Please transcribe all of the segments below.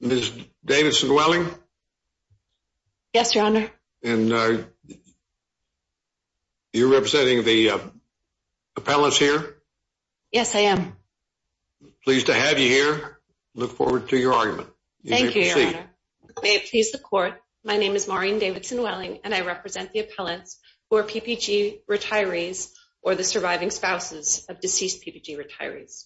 Ms. Davidson-Welling? Yes, Your Honor. And you're representing the appellants here? Yes, I am. Pleased to have you here. Look forward to your argument. Thank you, Your Honor. May it please the court. My name is Maureen Davidson-Welling and I represent the appellants who are PPG retirees or the surviving spouses of deceased PPG retirees.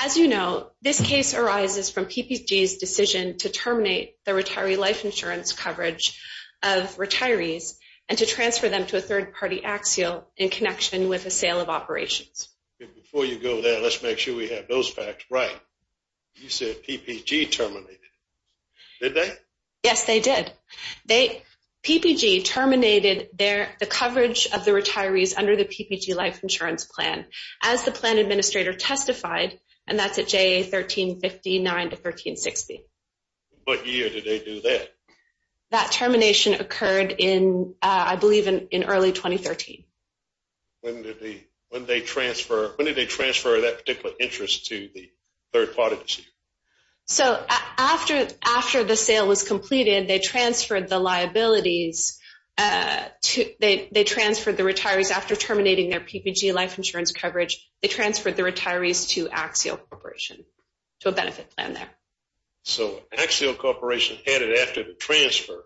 As you know, this case arises from PPG's decision to terminate the retiree life insurance coverage of retirees and to transfer them to a third-party axial in connection with a sale of operations. Before you go there, let's make sure we have those facts right. You said PPG terminated. Did they? Yes, they did. PPG terminated the coverage of the life insurance plan as the plan administrator testified, and that's at JA 1359 to 1360. What year did they do that? That termination occurred in, I believe, in early 2013. When did they transfer that particular interest to the third-party? So after the sale was completed, they transferred the liabilities. They transferred the retirees after terminating their PPG life insurance coverage. They transferred the retirees to Axial Corporation, to a benefit plan there. So Axial Corporation had it after the transfer.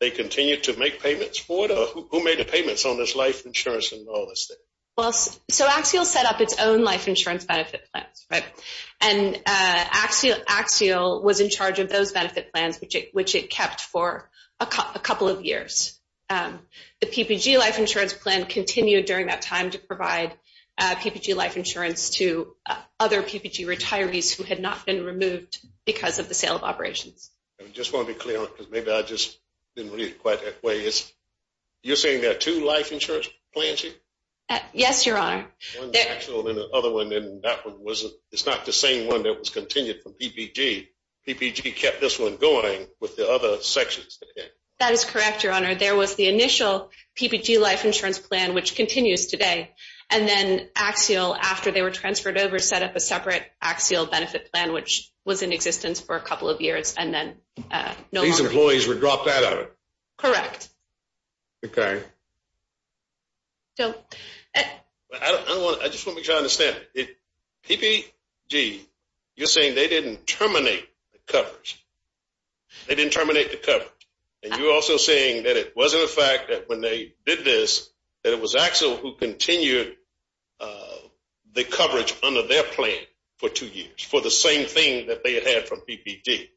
They continued to make payments for it? Who made the payments on this life insurance and all this thing? Well, so Axial set up its own life insurance benefit plans, right? And Axial was in charge of those benefit plans, which it kept for a couple of years. The PPG life insurance plan continued during that time to provide PPG life insurance to other PPG retirees who had not been removed because of the sale of operations. I just want to be clear on it, because maybe I just didn't read it quite that way. You're saying there are two life insurance plans here? Yes, Your Honor. One is Axial, and the other one, and that one, it's not the same one that was PPG. PPG kept this one going with the other sections. That is correct, Your Honor. There was the initial PPG life insurance plan, which continues today, and then Axial, after they were transferred over, set up a separate Axial benefit plan, which was in existence for a couple of years, and then no longer. These employees were dropped out of it? Correct. Okay. I just want to make sure I understand it. PPG, you're saying they didn't terminate the coverage. They didn't terminate the coverage. And you're also saying that it wasn't a fact that when they did this, that it was Axial who continued the coverage under their plan for two years, for the same thing that they had from PPG.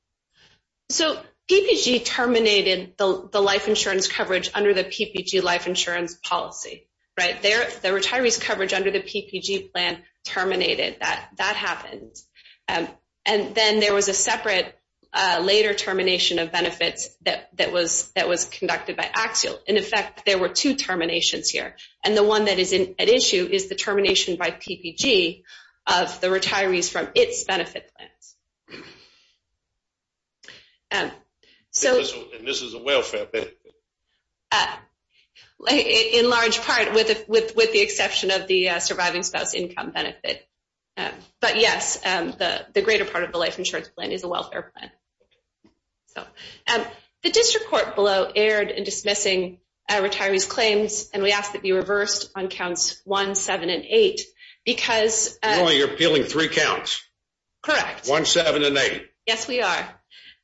So, PPG terminated the life insurance coverage under the PPG life insurance policy, right? The retiree's coverage under the PPG plan terminated. That happened. And then there was a separate later termination of benefits that was conducted by Axial. In effect, there were two terminations here. And the one that is at issue is the termination by PPG of the retirees from its benefit plans. And this is a welfare benefit. Like, in large part, with the exception of the surviving spouse income benefit. But yes, the greater part of the life insurance plan is a welfare plan. So, the district court below aired in dismissing retirees claims, and we asked that be reversed on counts one, seven, and eight, because... You're appealing three counts. Correct. One, seven, and eight. Yes, we are.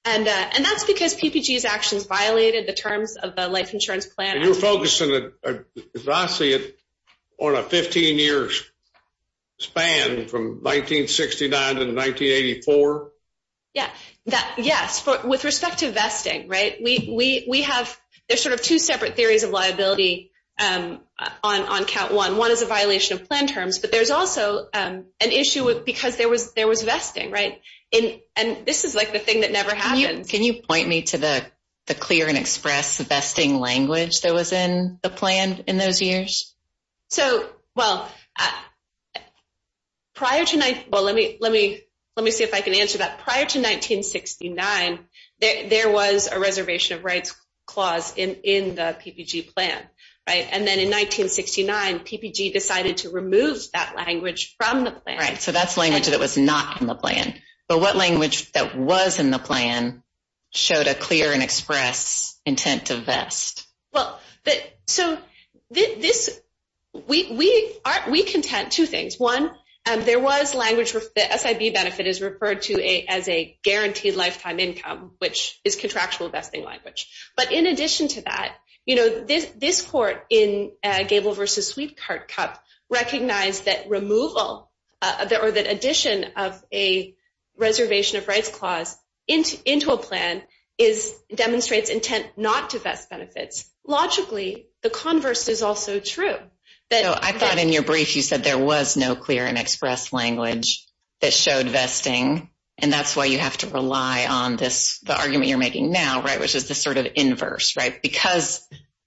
And that's because PPG's actions violated the terms of the life insurance plan. And you're focusing, as I see it, on a 15-year span from 1969 to 1984? Yeah. Yes. With respect to vesting, right? There's sort of two separate theories of liability on count one. One is a violation of plan terms, but there's also an issue because there was vesting, right? And this is like the thing that never happens. Can you point me to the clear-and-express vesting language that was in the plan in those years? So, well, prior to... Well, let me see if I can answer that. Prior to 1969, there was a reservation of rights clause in the PPG plan, right? And then in 1969, PPG decided to remove that language from the plan. Right. So, that's language that was not in the plan. But what language that was in the plan showed a clear-and-express intent to vest? Well, so, we contend two things. One, there was language... The SIB benefit is referred to as a guaranteed lifetime income, which is contractual vesting language. But in addition to that, this court in Gable v. Sweetheart Cup recognized that removal or that addition of a reservation of rights clause into a plan demonstrates intent not to vest benefits. Logically, the converse is also true. So, I thought in your brief, you said there was no clear-and-express language that showed vesting, and that's why you have to rely on this, the argument you're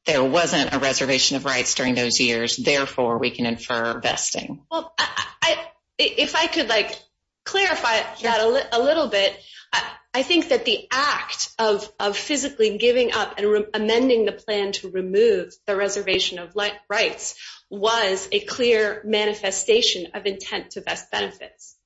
there wasn't a reservation of rights during those years. Therefore, we can infer vesting. Well, if I could clarify that a little bit, I think that the act of physically giving up and amending the plan to remove the reservation of rights was a clear manifestation of intent to vest benefits,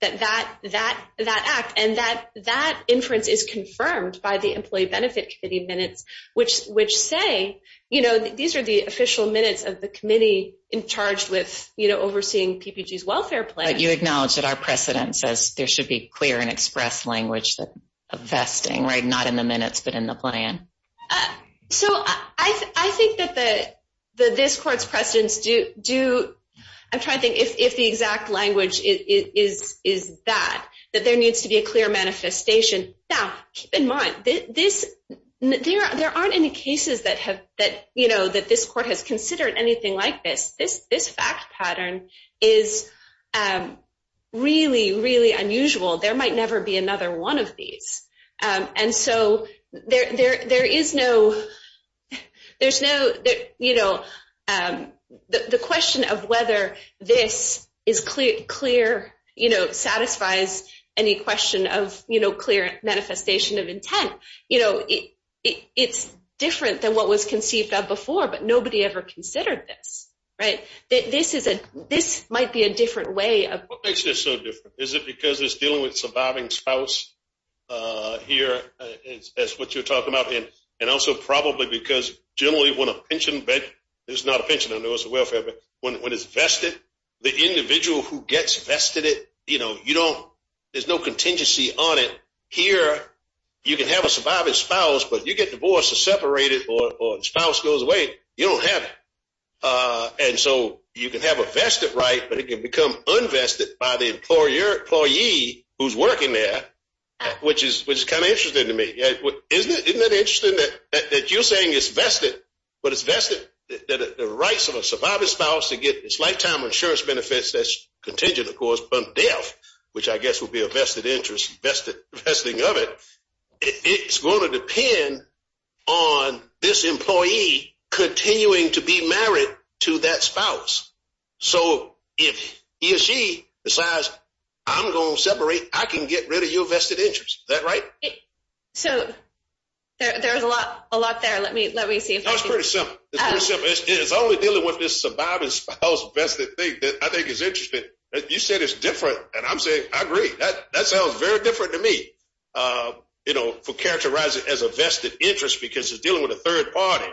that act. And that inference is confirmed by the Employee Benefit Committee which say, these are the official minutes of the committee in charge with overseeing PPG's welfare plan. But you acknowledge that our precedent says there should be clear-and-express language of vesting, right? Not in the minutes, but in the plan. So, I think that this court's precedents do... I'm trying to think if the exact language is that, that there needs to be a clear manifestation. Now, keep in mind, there aren't any cases that this court has considered anything like this. This fact pattern is really, really unusual. There might never be another one of clear manifestation of intent. It's different than what was conceived of before, but nobody ever considered this, right? This might be a different way of... What makes this so different? Is it because it's dealing with surviving spouse here, as what you're talking about? And also, probably because generally when a pension... It's not a pension, I know it's a welfare, but when it's vested, the individual who gets vested it, there's no contingency on it. Here, you can have a surviving spouse, but you get divorced or separated or the spouse goes away, you don't have it. And so, you can have a vested right, but it can become unvested by the employee who's working there, which is kind of interesting to me. Isn't it interesting that you're saying it's vested, but it's vested that the rights of a surviving spouse to get its lifetime insurance benefits that's contingent, of course, on death, which I guess would be a vested interest, vesting of it, it's going to depend on this employee continuing to be married to that spouse. So, if he or she decides, I'm going to separate, I can get rid of your vested interest. Is that right? So, there's a lot there. Let me see if I can... No, it's pretty simple. It's pretty simple. It's only dealing with this surviving spouse vested thing that I think is interesting. You said it's different, and I'm saying, I agree. That sounds very different to me for characterizing it as a vested interest, because it's dealing with a third party.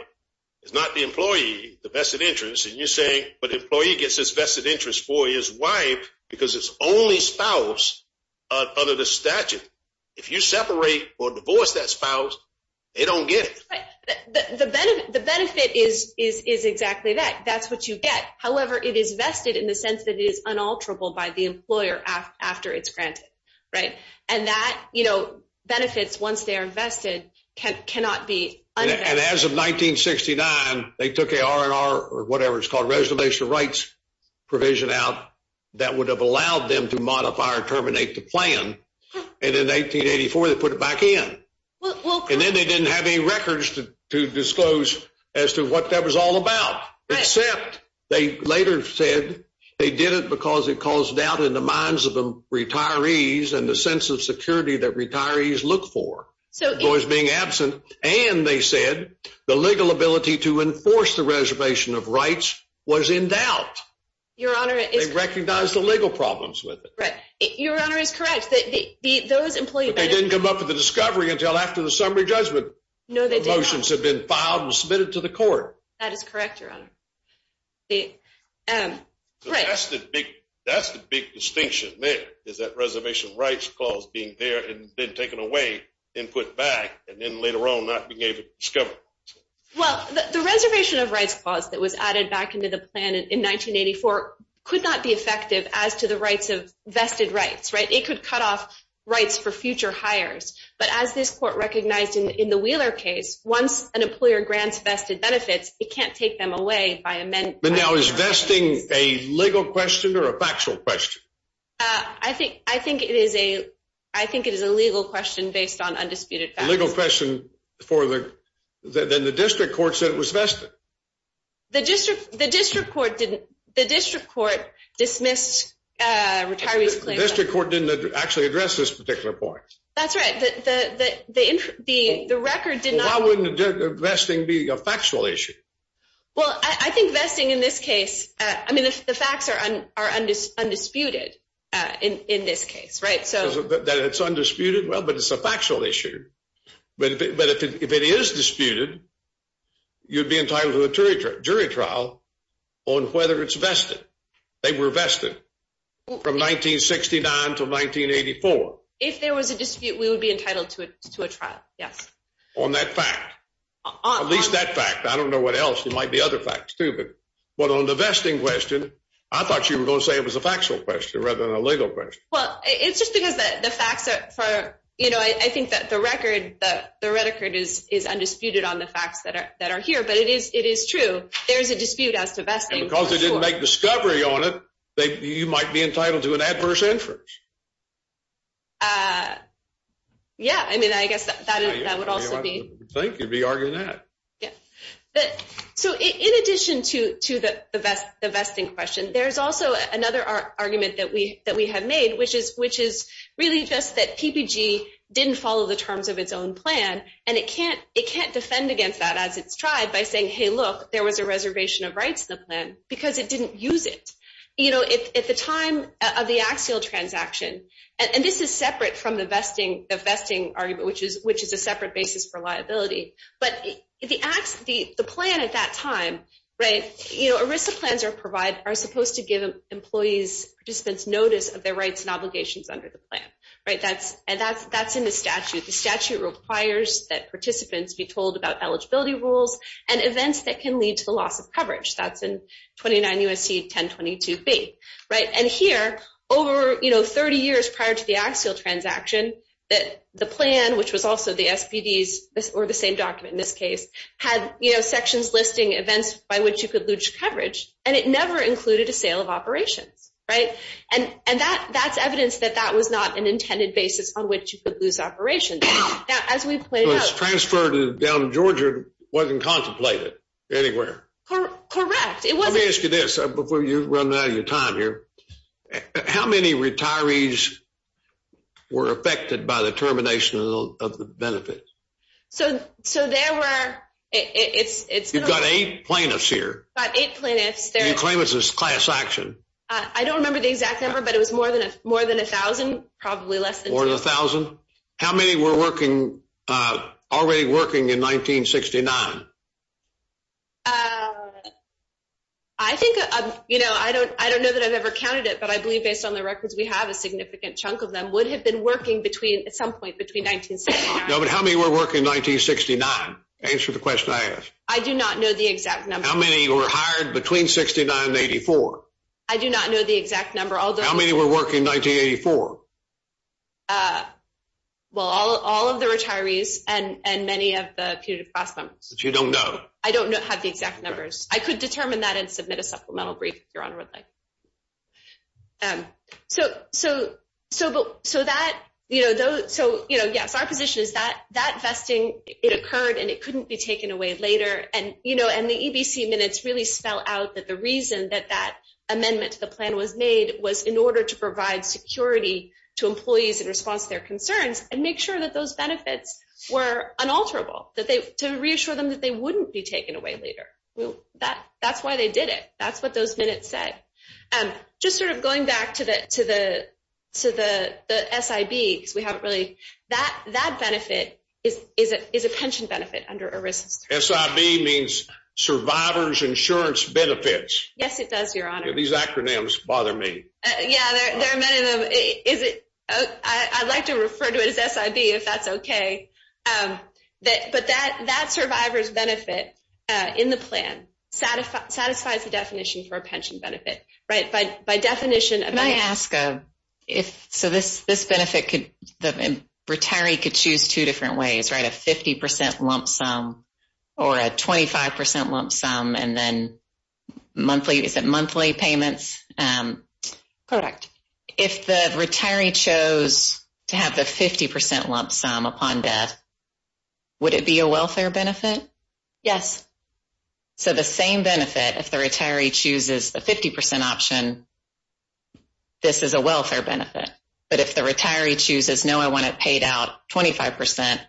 It's not the employee, the vested interest. And you're saying, but employee gets his vested interest for his wife because it's only spouse under the statute. If you separate or divorce that spouse, they don't get it. The benefit is exactly that. That's what you get. However, it is vested in the sense that it is unalterable by the employer after it's granted, right? And that, you know, benefits once they're vested cannot be... And as of 1969, they took or whatever it's called, Reservation of Rights provision out that would have allowed them to modify or terminate the plan. And in 1884, they put it back in. And then they didn't have any records to disclose as to what that was all about, except they later said they did it because it caused doubt in the minds of the retirees and the sense of security that retirees look for. Boys being absent, and they said the legal ability to enforce the Reservation of Rights was in doubt. They recognized the legal problems with it. Right. Your Honor is correct. Those employees... But they didn't come up with the discovery until after the summary judgment. No, they did not. The motions have been filed and submitted to the court. That is correct, Your Honor. That's the big distinction there, is that Reservation of Rights clause being there and then taken away and put back and then later on not being able to discover. Well, the Reservation of Rights clause that was added back into the plan in 1984 could not be effective as to the rights of vested rights, right? It could cut off rights for future hires. But as this court recognized in the Wheeler case, once an employer grants vested benefits, it can't take them away by amending... But now is vesting a legal question or a factual question? I think it is a legal question based on undisputed facts. Legal question for the... Then the district court said it was vested. The district court dismissed retiree's claim... The district court didn't actually address this particular point. That's right. The record did not... Well, why wouldn't vesting be a factual issue? Well, I think vesting in this case... I mean, the facts are undisputed in this case, right? That it's undisputed? Well, but it's a factual issue. But if it is disputed, you'd be entitled to a jury trial on whether it's vested. They were vested from 1969 to 1984. If there was a dispute, we would be entitled to a trial, yes. On that fact. At least that fact. I don't know what else. There might be other facts too. But on the vesting question, I thought you were going to say it was a factual question rather than a legal question. Well, it's just because the facts are... I think that the record, the record is undisputed on the facts that are here, but it is true. There is a dispute as to vesting. Because they didn't make discovery on it, you might be entitled to an adverse inference. Uh, yeah, I mean, I guess that would also be... I think you'd be arguing that. So in addition to the vesting question, there's also another argument that we have made, which is really just that PPG didn't follow the terms of its own plan. And it can't defend against that as it's tried by saying, hey, look, there was a reservation of rights in the plan because it didn't use it. You know, at the time of the Axial transaction, and this is separate from the vesting argument, which is a separate basis for liability. But the plan at that time, you know, ERISA plans are supposed to give employees, participants notice of their rights and obligations under the plan. Right, that's in the statute. The statute requires that participants be told about eligibility rules and events that can lead to the loss of coverage. That's in 29 U.S.C. 1022B, right? And here, over, you know, 30 years prior to the Axial transaction, that the plan, which was also the SPDs, or the same document in this case, had, you know, sections listing events by which you could lose coverage. And it never included a sale of operations, right? And that's evidence that that was not an intended basis on which you could lose operations. Now, as we've played out- It was transferred down to Georgia, wasn't contemplated anywhere. Correct. Let me ask you this, before you run out of your time here, how many retirees were affected by the termination of the benefits? So, there were, it's- You've got eight plaintiffs here. Got eight plaintiffs. You claim it's a class action. I don't remember the exact number, but it was more than a thousand, probably less than two. More than a thousand? How many were working, already working in 1969? I think, you know, I don't know that I've ever counted it, but I believe based on the records we have, a significant chunk of them would have been working between, at some point between 1969- No, but how many were working in 1969? Answer the question I asked. I do not know the exact number. How many were hired between 69 and 84? I do not know the exact number, although- How many were working 1984? Well, all of the retirees and many of the punitive class members. But you don't know? I don't know, have the exact numbers. I could determine that and submit a supplemental brief, if your honor would like. So that, you know, those, so, you know, yes, our position is that, that vesting, it occurred and it couldn't be taken away later. And, you know, and the EBC minutes really spell out that the reason that that amendment to the plan was made was in order to provide security to employees in response to their concerns, and make sure that those benefits were unalterable, that they, to reassure them that they wouldn't be taken away later. Well, that, that's why they did it. That's what those minutes said. And just sort of going back to the, to the, to the, the SIB, because we haven't really, that, that benefit is, is a, is a pension benefit under ERISA. SIB means Survivors Insurance Benefits. Yes, it does, your honor. These acronyms bother me. Yeah, there are many of them. Is it, I'd like to refer to it as SIB, if that's okay. That, but that, that survivor's benefit in the plan satisfy, satisfies the definition for a pension benefit, right? By, by definition, I might ask if, so this, this benefit could, the retiree could choose two different ways, right? A 50% lump sum or a 25% lump sum, and then monthly, is it monthly payments? Correct. If the retiree chose to have the 50% lump sum upon death, would it be a welfare benefit? Yes. So the same benefit, if the retiree chooses the 50% option, this is a welfare benefit. But if the retiree chooses, no, I want it paid out 25%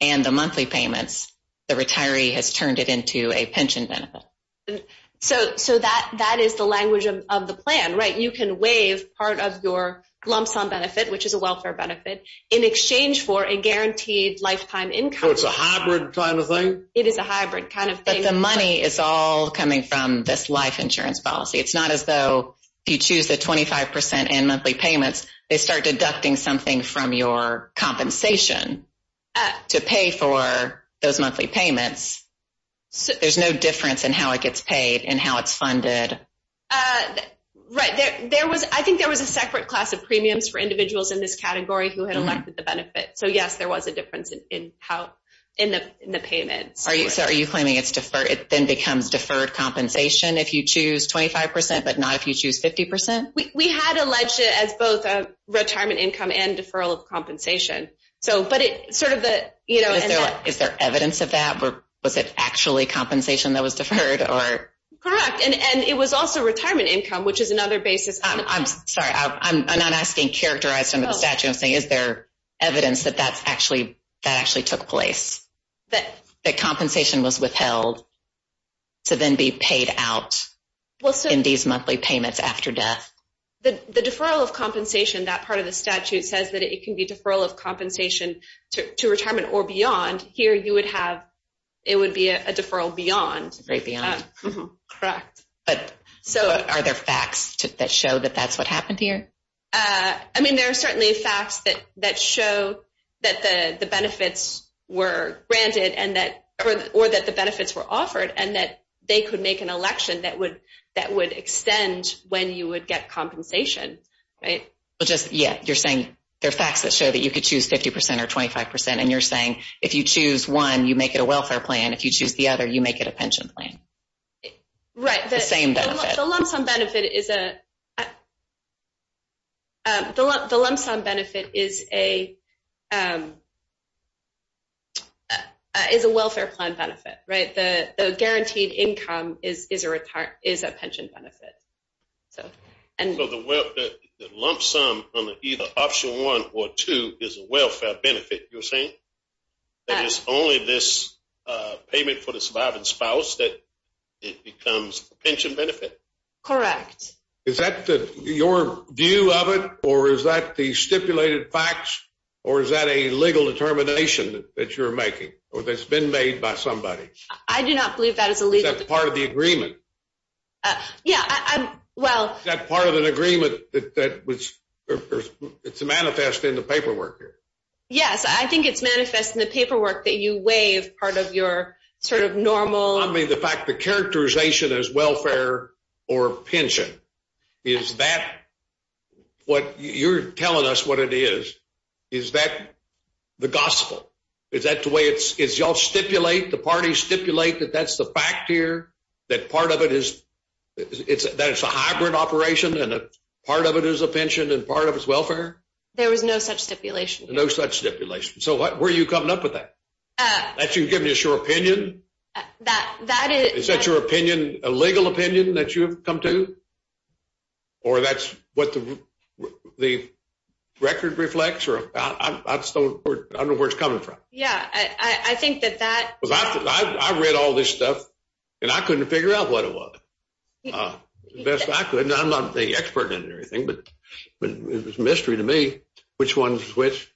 and the monthly payments, the retiree has turned it into a pension benefit. So, so that, that is the language of the plan, right? You can waive part of your lump sum benefit, which is a welfare benefit in exchange for a guaranteed lifetime income. So it's a hybrid kind of thing? It is a hybrid kind of thing. But the money is all coming from this life insurance policy. It's not as though you choose the 25% and monthly payments, they start deducting something from your compensation to pay for those monthly payments. There's no difference in how it gets paid and how it's funded. Uh, right. There, there was, I think there was a separate class of premiums for individuals in this category who had elected the benefit. So yes, there was a difference in how, in the, in the payments. Are you, so are you claiming it's deferred? It then becomes deferred compensation if you choose 25%, but not if you choose 50%? We had alleged it as both a retirement income and deferral of compensation. So, but it sort of the, you know, Is there, is there evidence of that? Or was it actually compensation that was deferred or? Correct. And, and it was also retirement income, which is another basis. I'm sorry, I'm not asking characterize some of the statute. I'm saying, is there evidence that that's actually, that actually took place? That the compensation was withheld. So then be paid out in these monthly payments after death. The deferral of compensation, that part of the statute says that it can be deferral of compensation to retirement or beyond. Here you would have, it would be a deferral beyond. Correct. But so are there facts that show that that's what happened here? I mean, there are certainly facts that, that show that the benefits were granted and that, or that the benefits were offered and that they could make an election that would, that would extend when you would get compensation, right? Well, just, yeah, you're saying there are facts that show that you could choose 50% or 25%. And you're saying if you choose one, you make it a welfare plan. If you choose the other, you make it a pension plan. Right. The same benefit. The lump sum benefit is a, the lump sum benefit is a, is a welfare plan benefit, right? The guaranteed income is a pension benefit. So the lump sum on either option one or two is a welfare benefit. You're saying that it's only this payment for the surviving spouse that it becomes a pension benefit. Correct. Is that the, your view of it or is that the stipulated facts or is that a legal determination that you're making or that's been made by somebody? I do not believe that is illegal. Is that part of the agreement? Yeah, well. That part of an agreement that was, it's manifest in the paperwork here. Yes, I think it's manifest in the paperwork that you waive part of your sort of normal. The fact, the characterization is welfare or pension. Is that what you're telling us what it is? Is that the gospel? Is that the way it's, is y'all stipulate the party stipulate that that's the fact here that part of it is, it's a, that it's a hybrid operation and a part of it is a pension and part of it's welfare. There was no such stipulation. No such stipulation. So what, where are you coming up with that? That you've given us your opinion. That, that is. Is that your opinion, a legal opinion that you've come to? Or that's what the record reflects or I just don't, I don't know where it's coming from. Yeah, I think that that. Because I read all this stuff and I couldn't figure out what it was. The best I could and I'm not the expert in everything, but it was a mystery to me which one to switch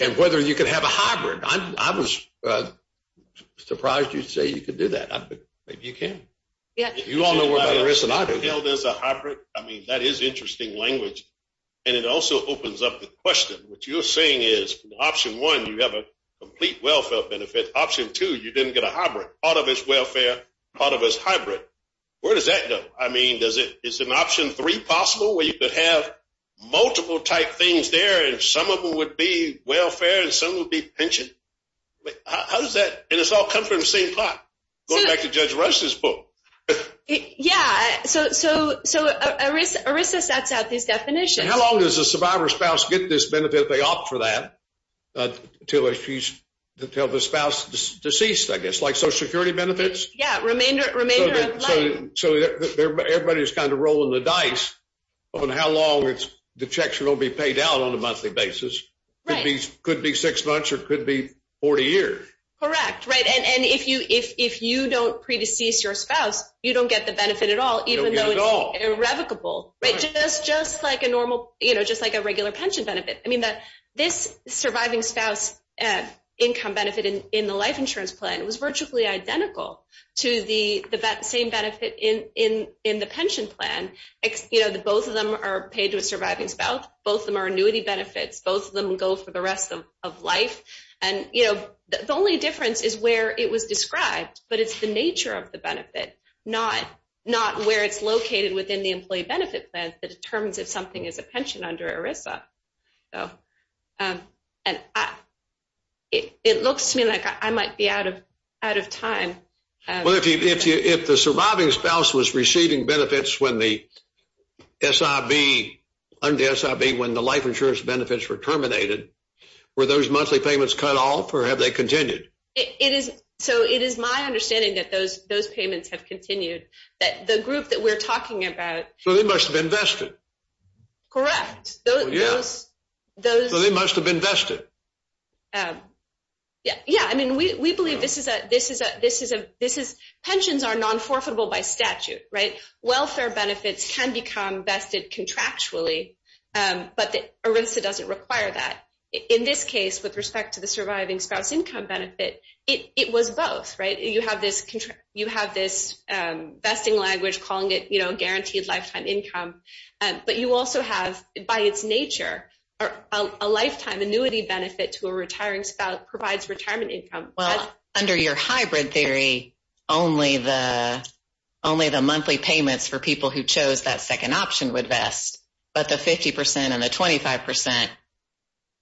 and whether you could have a hybrid. I was surprised you'd say you could do that. Maybe you can. You all know where that is and I don't. Held as a hybrid. I mean, that is interesting language and it also opens up the question. What you're saying is option one, you have a complete welfare benefit. Option two, you didn't get a hybrid. Part of it's welfare. Part of it's hybrid. Where does that go? I mean, does it, is an option three possible where you could have multiple type things there and some of them would be welfare and some would be pension? How does that? And it's all come from the same plot. Going back to Judge Rush's book. Yeah, so ERISA sets out these definitions. How long does a survivor's spouse get this benefit if they opt for that? Until the spouse is deceased, I guess. Like social security benefits? Yeah, remainder of life. So everybody's kind of rolling the dice on how long it's, the checks are going to be out on a monthly basis. Could be six months or could be 40 years. Correct, right. And if you don't predecease your spouse, you don't get the benefit at all, even though it's irrevocable. Right, just like a normal, you know, just like a regular pension benefit. I mean, this surviving spouse income benefit in the life insurance plan was virtually identical to the same benefit in the pension plan. You know, both of them are paid to a surviving spouse. Both of them are annuity benefits. Both of them go for the rest of life. And, you know, the only difference is where it was described, but it's the nature of the benefit, not where it's located within the employee benefit plan that determines if something is a pension under ERISA. And it looks to me like I might be out of time. Well, if the surviving spouse was receiving benefits when the SIV, under SIV, when the life insurance benefits were terminated, were those monthly payments cut off or have they continued? So it is my understanding that those payments have continued, that the group that we're talking about. So they must have invested. Correct. So they must have invested. Yeah, yeah, I mean, we believe this is a, this is a, this is a, this is, pensions are non-forfeitable by statute, right? Welfare benefits can become vested contractually, but ERISA doesn't require that. In this case, with respect to the surviving spouse income benefit, it was both, right? You have this contract, you have this vesting language calling it, you know, guaranteed lifetime income. But you also have, by its nature, a lifetime annuity benefit to a retiring spouse provides retirement income. Well, under your hybrid theory, only the, only the monthly payments for people who chose that second option would vest. But the 50% and the 25%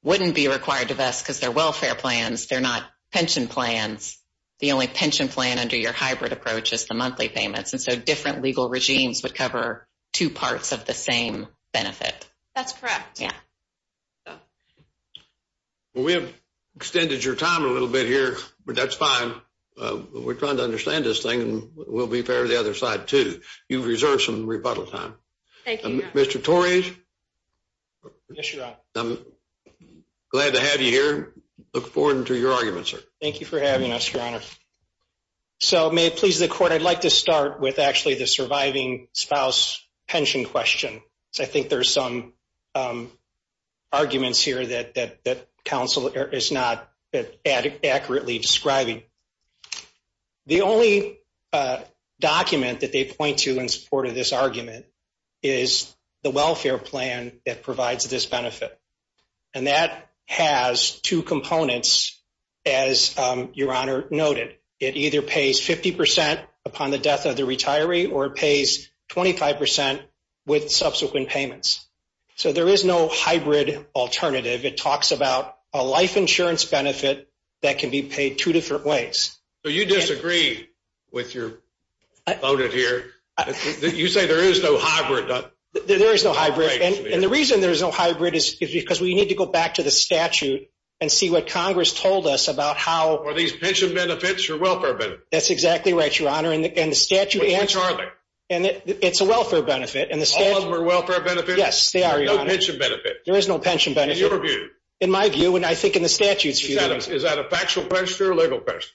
wouldn't be required to vest because they're welfare plans. They're not pension plans. The only pension plan under your hybrid approach is the monthly payments. And so different legal regimes would cover two parts of the same benefit. That's correct. Yeah. Well, we have extended your time a little bit here, but that's fine. We're trying to understand this thing and we'll be fair to the other side too. You've reserved some rebuttal time. Thank you. Mr. Torres? Yes, Your Honor. I'm glad to have you here. Look forward to your argument, sir. Thank you for having us, Your Honor. So may it please the court, I'd like to start with actually the surviving spouse pension question. So I think there's some arguments here that, that, that counsel is not accurately describing. The only document that they point to in support of this argument is the welfare plan that provides this benefit. And that has two components, as Your Honor noted. It either pays 50% upon the death of the retiree, or it pays 25% with subsequent payments. So there is no hybrid alternative. It talks about a life insurance benefit that can be paid two different ways. So you disagree with your opponent here? You say there is no hybrid. There is no hybrid. And the reason there is no hybrid is because we need to go back to the statute and see what Congress told us about how- Are these pension benefits or welfare benefits? That's exactly right, Your Honor. And the statute- Which are they? And it's a welfare benefit. All of them are welfare benefits? Yes, they are, Your Honor. No pension benefit? There is no pension benefit. In your view? In my view, and I think in the statute's view. Is that a factual question or a legal question?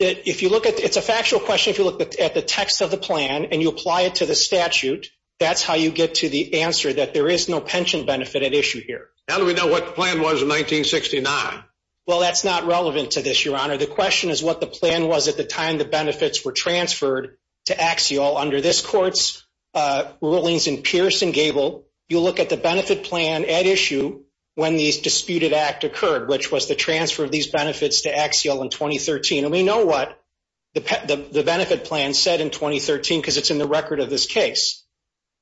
It's a factual question if you look at the text of the plan and you apply it to the statute. That's how you get to the answer that there is no pension benefit at issue here. How do we know what the plan was in 1969? Well, that's not relevant to this, Your Honor. The question is what the plan was at the time the benefits were transferred to Axiol under this court's rulings in Pierce and Gable. You look at the benefit plan at issue when the disputed act occurred, which was the transfer of these benefits to Axiol in 2013. And we know what the benefit plan said in 2013 because it's in the record of this case.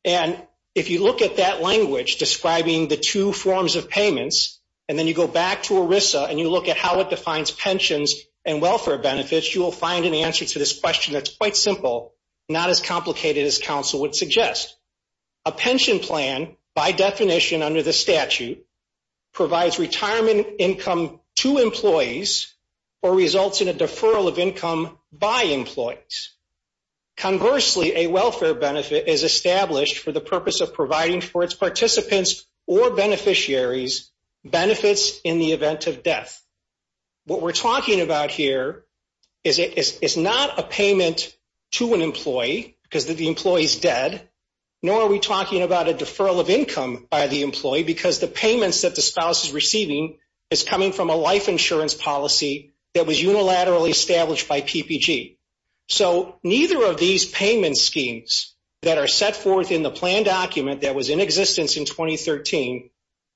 And if you look at that language describing the two forms of payments, and then you go back to ERISA and you look at how it defines pensions and welfare benefits, you will find an answer to this question that's quite simple, not as complicated as counsel would suggest. A pension plan, by definition under the statute, provides retirement income to employees or results in a deferral of income by employees. Conversely, a welfare benefit is established for the purpose of providing for its participants or beneficiaries benefits in the event of death. What we're talking about here is not a payment to an employee because the employee is dead, nor are we talking about a deferral of income by the employee, because the payments that the spouse is receiving is coming from a life insurance policy that was unilaterally established by PPG. So, neither of these payment schemes that are set forth in the plan document that was in existence in 2013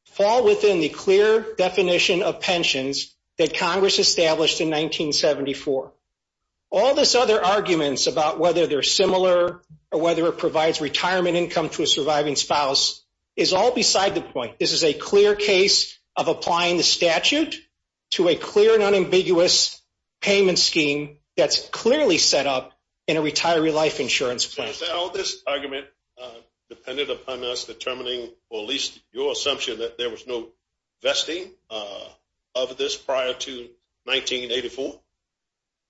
fall within the clear definition of pensions that Congress established in 1974. All this other arguments about whether they're similar or whether it provides retirement income to a surviving spouse is all beside the point. This is a clear case of applying the statute to a clear and unambiguous payment scheme that's clearly set up in a retiree life insurance plan. So, this argument depended upon us determining, or at least your assumption, that there was no vesting of this prior to 1984?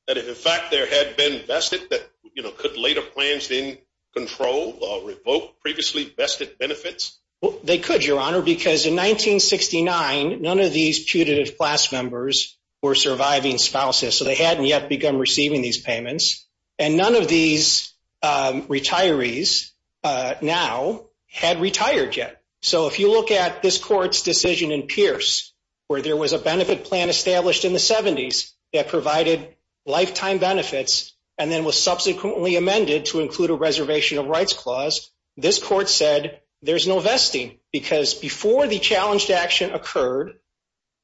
That if in fact there had been vested that, you know, could later plans then control or revoke previously vested benefits? Well, they could, your honor, because in 1969, none of these putative class members were surviving spouses. So, they hadn't yet begun receiving these payments. And none of these retirees now had retired yet. So, if you look at this court's decision in Pierce, where there was a benefit plan established in the 70s that provided lifetime benefits and then was subsequently amended to include a reservation of rights clause, this court said there's no vesting because before the challenged action occurred,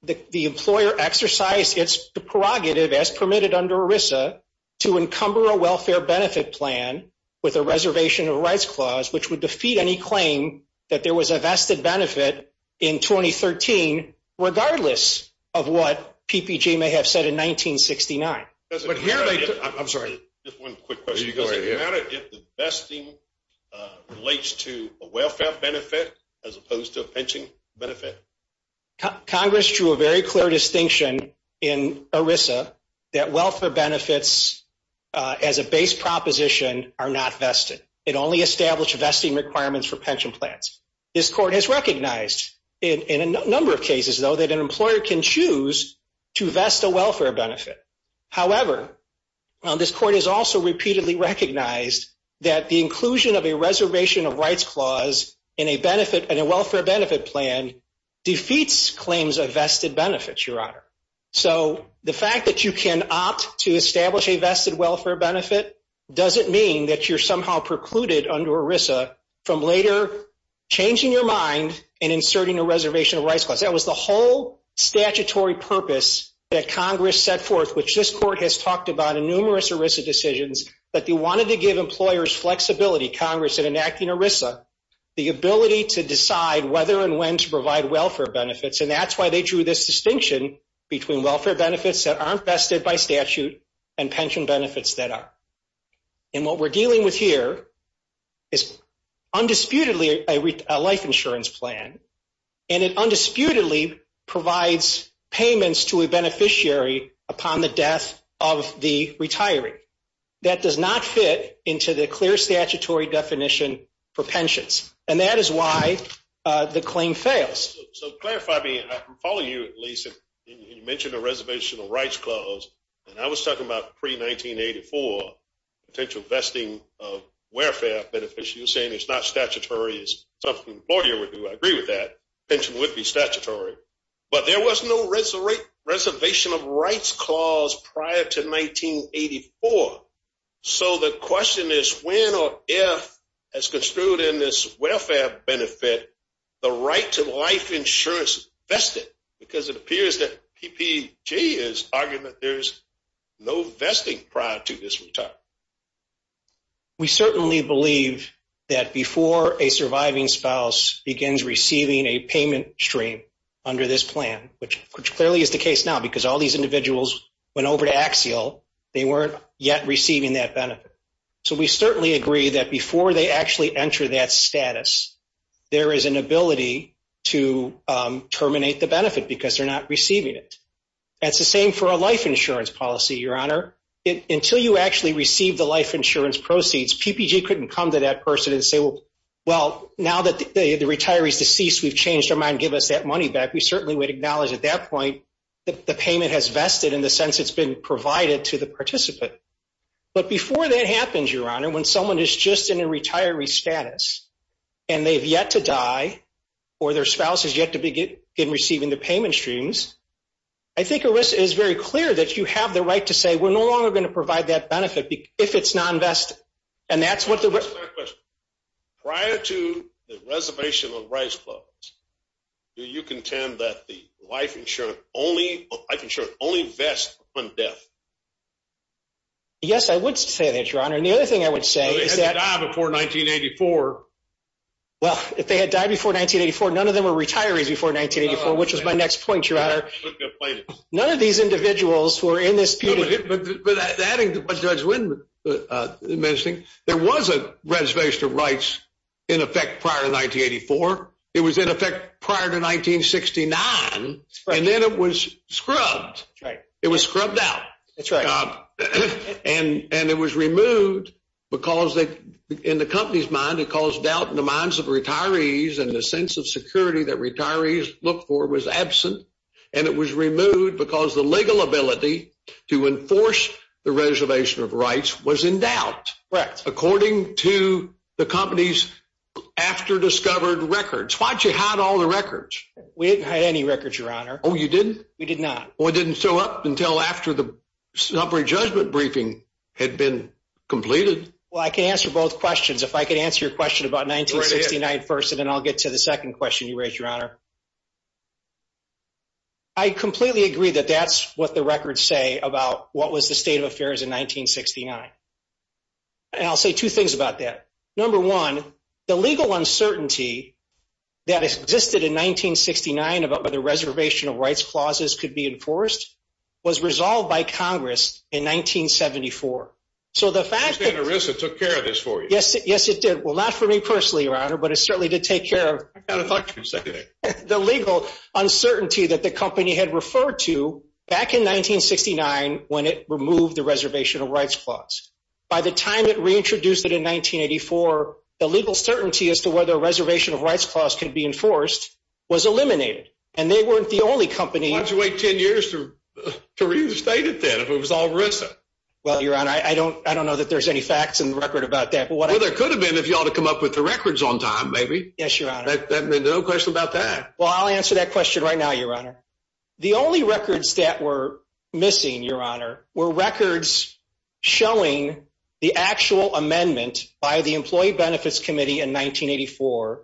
the employer exercised its prerogative, as permitted under ERISA, to encumber a welfare benefit plan with a reservation of rights clause, which would defeat any claim that there was a vested benefit in 2013, regardless of what PPG may have said in 1969. I'm sorry, just one quick question. Does it matter if the vesting relates to a welfare benefit as opposed to a pension benefit? Congress drew a very clear distinction in ERISA that welfare benefits as a base proposition are not vested. It only established vesting requirements for pension plans. This court has recognized in a number of cases, though, that an employer can choose to vest a welfare benefit. However, this court has also repeatedly recognized that the inclusion of a reservation of rights clause in a welfare benefit plan defeats claims of vested benefits, Your Honor. So the fact that you can opt to establish a vested welfare benefit doesn't mean that you're somehow precluded under ERISA from later changing your mind and inserting a reservation of rights clause. That was the whole statutory purpose that Congress set forth, which this court has talked about in numerous ERISA decisions, that they wanted to give employers flexibility, Congress, in enacting ERISA, the ability to decide whether and when to provide welfare benefits. And that's why they drew this distinction between welfare benefits that aren't vested by statute and pension benefits that are. And what we're dealing with here is undisputedly a life insurance plan, and it undisputedly provides payments to a beneficiary upon the death of the retiree. That does not fit into the clear statutory definition for pensions, and that is why the claim fails. So clarify me, I'm following you, at least, and you mentioned a reservation of rights clause, and I was talking about pre-1984 potential vesting of welfare benefits. You're saying it's not statutory. It's something an employer would do. I agree with that. Pension would be statutory. But there was no reservation of rights clause prior to 1984. So the question is when or if, as construed in this welfare benefit, the right to life insurance vested, because it appears that PPG is arguing that there's no vesting prior to this retirement. We certainly believe that before a surviving spouse begins receiving a payment stream, under this plan, which clearly is the case now, because all these individuals went over to Axial, they weren't yet receiving that benefit. So we certainly agree that before they actually enter that status, there is an ability to terminate the benefit because they're not receiving it. That's the same for a life insurance policy, Your Honor. Until you actually receive the life insurance proceeds, PPG couldn't come to that person and say, well, now that the retiree's deceased, we've changed our mind. Give us that money back. We certainly would acknowledge at that point, that the payment has vested in the sense it's been provided to the participant. But before that happens, Your Honor, when someone is just in a retiree status and they've yet to die or their spouse has yet to begin receiving the payment streams, I think it is very clear that you have the right to say, we're no longer going to provide that benefit if it's non-vested. Prior to the reservation of rights clause, do you contend that the life insurance only vests upon death? Yes, I would say that, Your Honor. And the other thing I would say is that- They had to die before 1984. Well, if they had died before 1984, none of them were retirees before 1984, which was my next point, Your Honor. None of these individuals who are in this period- Adding to what Judge Wynne was mentioning, there was a reservation of rights in effect prior to 1984. It was in effect prior to 1969, and then it was scrubbed. It was scrubbed out. And it was removed because in the company's mind, it caused doubt in the minds of retirees and the sense of security that retirees look for was absent. And it was removed because the legal ability to enforce the reservation of rights was in doubt- Correct. According to the company's after-discovered records. Why didn't you hide all the records? We didn't hide any records, Your Honor. Oh, you didn't? We did not. Well, it didn't show up until after the summary judgment briefing had been completed. Well, I can answer both questions. If I could answer your question about 1969 first, and then I'll get to the second question you raised, Your Honor. I completely agree that that's what the records say about what was the state of affairs in 1969. And I'll say two things about that. Number one, the legal uncertainty that existed in 1969 about whether reservation of rights clauses could be enforced was resolved by Congress in 1974. So the fact that- I understand ERISA took care of this for you. Yes, it did. Well, not for me personally, Your Honor, but it certainly did take care of- I kind of thought you were going to say that. The legal uncertainty that the company had referred to back in 1969 when it removed the reservation of rights clause. By the time it reintroduced it in 1984, the legal certainty as to whether a reservation of rights clause could be enforced was eliminated. And they weren't the only company- Why'd you wait 10 years to reinstate it then if it was all ERISA? Well, Your Honor, I don't know that there's any facts in the record about that. Well, there could have been if you ought to come up with the records on time, maybe. Yes, Your Honor. There's no question about that. Well, I'll answer that question right now, Your Honor. The only records that were missing, Your Honor, were records showing the actual amendment by the Employee Benefits Committee in 1984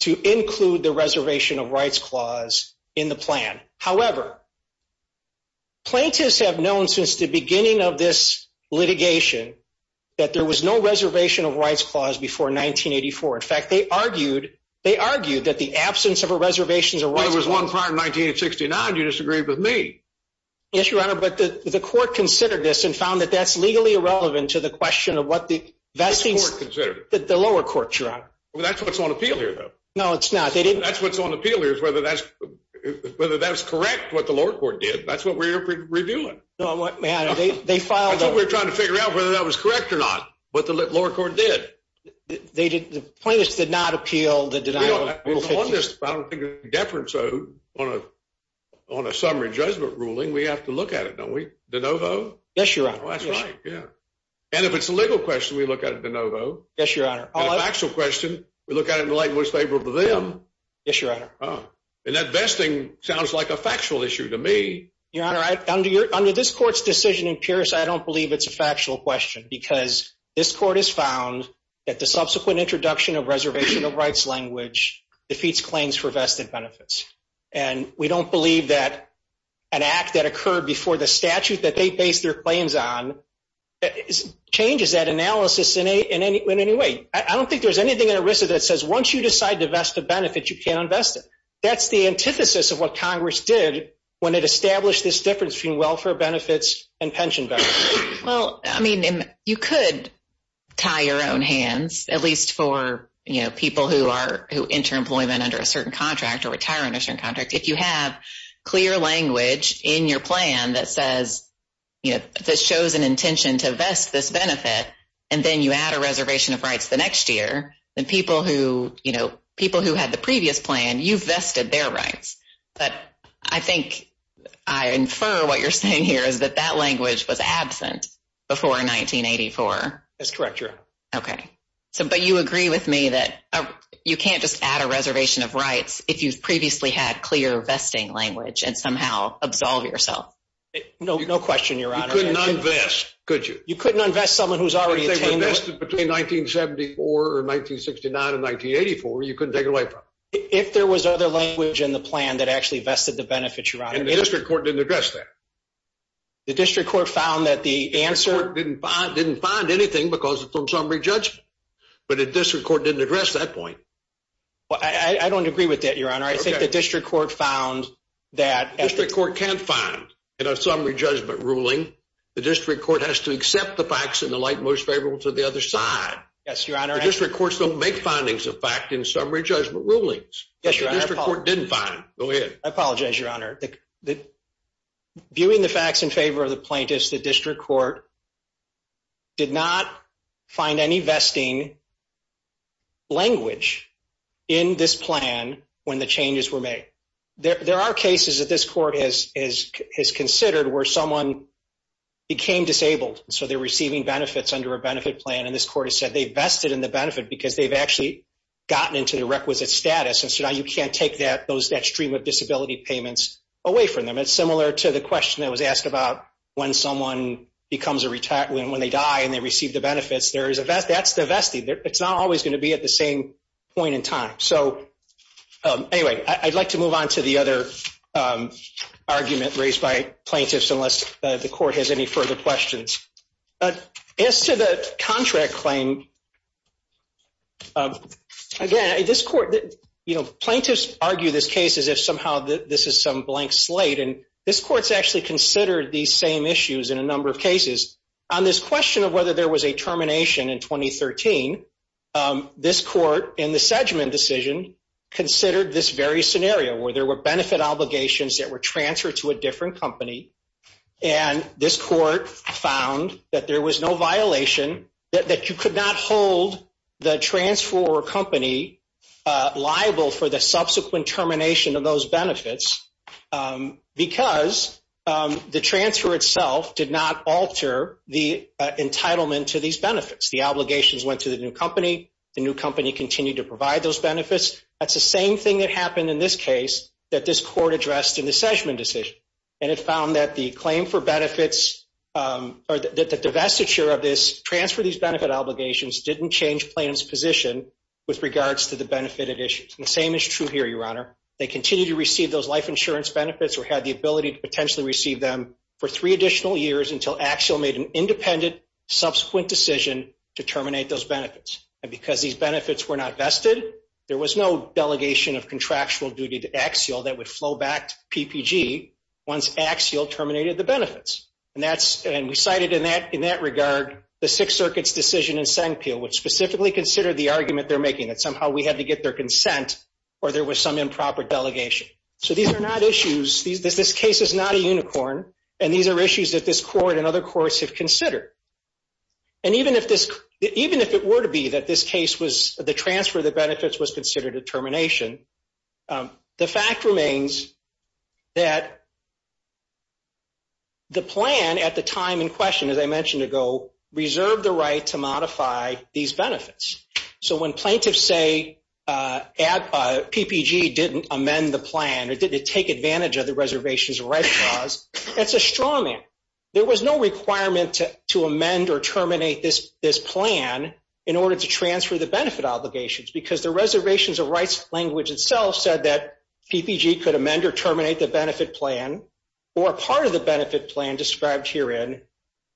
to include the reservation of rights clause in the plan. However, plaintiffs have known since the beginning of this litigation that there was no reservation of rights clause before 1984. In fact, they argued that the absence of a reservation of rights clause- Well, there was one prior to 1969. You disagree with me. Yes, Your Honor. But the court considered this and found that that's legally irrelevant to the question of what the vesting- Which court considered it? The lower court, Your Honor. That's what's on appeal here, though. No, it's not. They didn't- That's what's on appeal here is whether that's correct, what the lower court did. That's what we're reviewing. No, Your Honor, they filed a- I think we're trying to figure out whether that was correct or not, what the lower court did. They did- The plaintiffs did not appeal the denial of- We don't- I don't think it's deference on a summary judgment ruling. We have to look at it, don't we, de novo? Yes, Your Honor. That's right, yeah. And if it's a legal question, we look at it de novo. Yes, Your Honor. And a factual question, we look at it in the light and what's favorable to them. Yes, Your Honor. Oh, and that vesting sounds like a factual issue to me. Your Honor, under this court's decision in Pierce, I don't believe it's a factual question because this court has found that the subsequent introduction of reservation of rights language defeats claims for vested benefits. And we don't believe that an act that occurred before the statute that they based their claims on changes that analysis in any way. I don't think there's anything in ERISA that says, once you decide to vest a benefit, you can't invest it. That's the antithesis of what Congress did when it established this difference between welfare benefits and pension benefits. Well, I mean, you could tie your own hands, at least for, you know, people who are, who enter employment under a certain contract or retire under a certain contract. If you have clear language in your plan that says, you know, that shows an intention to vest this benefit and then you add a reservation of rights the next year, then people who, you know, people who had the previous plan, you've vested their rights. But I think I infer what you're saying here is that that language was absent before 1984. That's correct, Your Honor. Okay. So, but you agree with me that you can't just add a reservation of rights if you've previously had clear vesting language and somehow absolve yourself. No question, Your Honor. You couldn't unvest, could you? You couldn't unvest someone who's already attained it. If they were vested between 1974 or 1969 and 1984, you couldn't take it away from them. If there was other language in the plan that actually vested the benefits, Your Honor. And the district court didn't address that. The district court found that the answer... The district court didn't find anything because it's on summary judgment. But the district court didn't address that point. Well, I don't agree with that, Your Honor. I think the district court found that... The district court can't find in a summary judgment ruling. The district court has to accept the facts in the light most favorable to the other side. Yes, Your Honor. The district courts don't make findings of fact in summary judgment rulings. Yes, Your Honor. The district court didn't find. Go ahead. I apologize, Your Honor. Viewing the facts in favor of the plaintiffs, the district court did not find any vesting language in this plan when the changes were made. There are cases that this court has considered where someone became disabled. So they're receiving benefits under a benefit plan. And this court has said they vested in the benefit because they've actually gotten into the requisite status. And so now you can't take that stream of disability payments away from them. It's similar to the question that was asked about when someone becomes a retired... When they die and they receive the benefits, that's the vesting. It's not always going to be at the same point in time. So anyway, I'd like to move on to the other argument raised by plaintiffs unless the court has any further questions. But as to the contract claim, again, this court... Plaintiffs argue this case as if somehow this is some blank slate and this court's actually considered these same issues in a number of cases. On this question of whether there was a termination in 2013, this court in the Sedgman decision considered this very scenario where there were benefit obligations that were transferred to a different company. And this court found that there was no violation, that you could not hold the transfer company liable for the subsequent termination of those benefits. Because the transfer itself did not alter the entitlement to these benefits. The obligations went to the new company. The new company continued to provide those benefits. That's the same thing that happened in this case that this court addressed in the Sedgman decision. And it found that the claim for benefits... Or that the divestiture of this transfer, these benefit obligations didn't change plaintiff's position with regards to the benefit additions. The same is true here, Your Honor. They continue to receive those life insurance benefits or had the ability to potentially receive them for three additional years until Axial made an independent subsequent decision to terminate those benefits. And because these benefits were not vested, there was no delegation of contractual duty to Axial that would flow back to PPG once Axial terminated the benefits. And we cited in that regard, the Sixth Circuit's decision in Sengpil which specifically considered the argument they're making that somehow we had to get their consent or there was some improper delegation. So these are not issues. This case is not a unicorn. And these are issues that this court and other courts have considered. And even if it were to be that this case was... The transfer of the benefits was considered a termination, the fact remains that the plan at the time in question, as I mentioned ago, reserved the right to modify these benefits. So when plaintiffs say PPG didn't amend the plan or didn't take advantage of the Reservations of Rights clause, that's a straw man. There was no requirement to amend or terminate this plan in order to transfer the benefit obligations because the Reservations of Rights language itself said that PPG could amend or terminate the benefit plan or part of the benefit plan described herein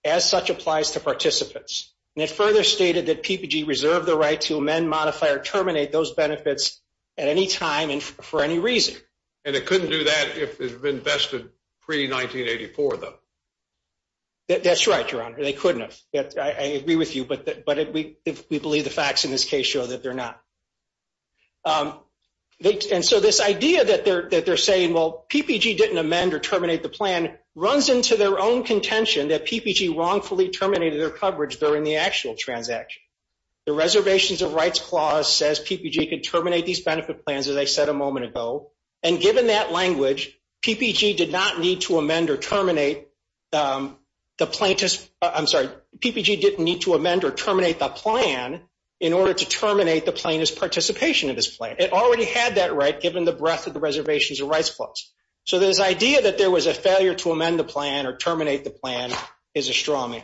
as such applies to participants. And it further stated that PPG reserved the right to amend, modify, or terminate those benefits at any time and for any reason. And it couldn't do that if it had been vested pre-1984, though. That's right, Your Honor. They couldn't have. I agree with you, but we believe the facts in this case show that they're not. And so this idea that they're saying, well, PPG didn't amend or terminate the plan runs into their own contention that PPG wrongfully terminated their coverage during the actual transaction. The Reservations of Rights clause says PPG could terminate these benefit plans, as I said a moment ago. And given that language, PPG did not need to amend or terminate the plaintiff's, I'm sorry, PPG didn't need to amend or terminate the plan in order to terminate the plaintiff's participation in this plan. It already had that right given the breadth of the Reservations of Rights clause. So this idea that there was a failure to amend the plan or terminate the plan is a straw man.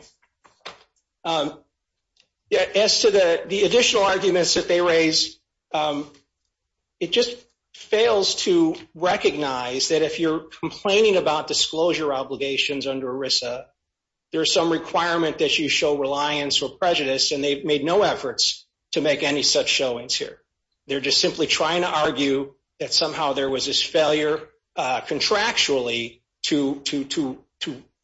As to the additional arguments that they raise, it just fails to recognize that if you're complaining about disclosure obligations under ERISA, there's some requirement that you show reliance or prejudice, and they've made no efforts to make any such showings here. They're just simply trying to argue that somehow there was this failure contractually to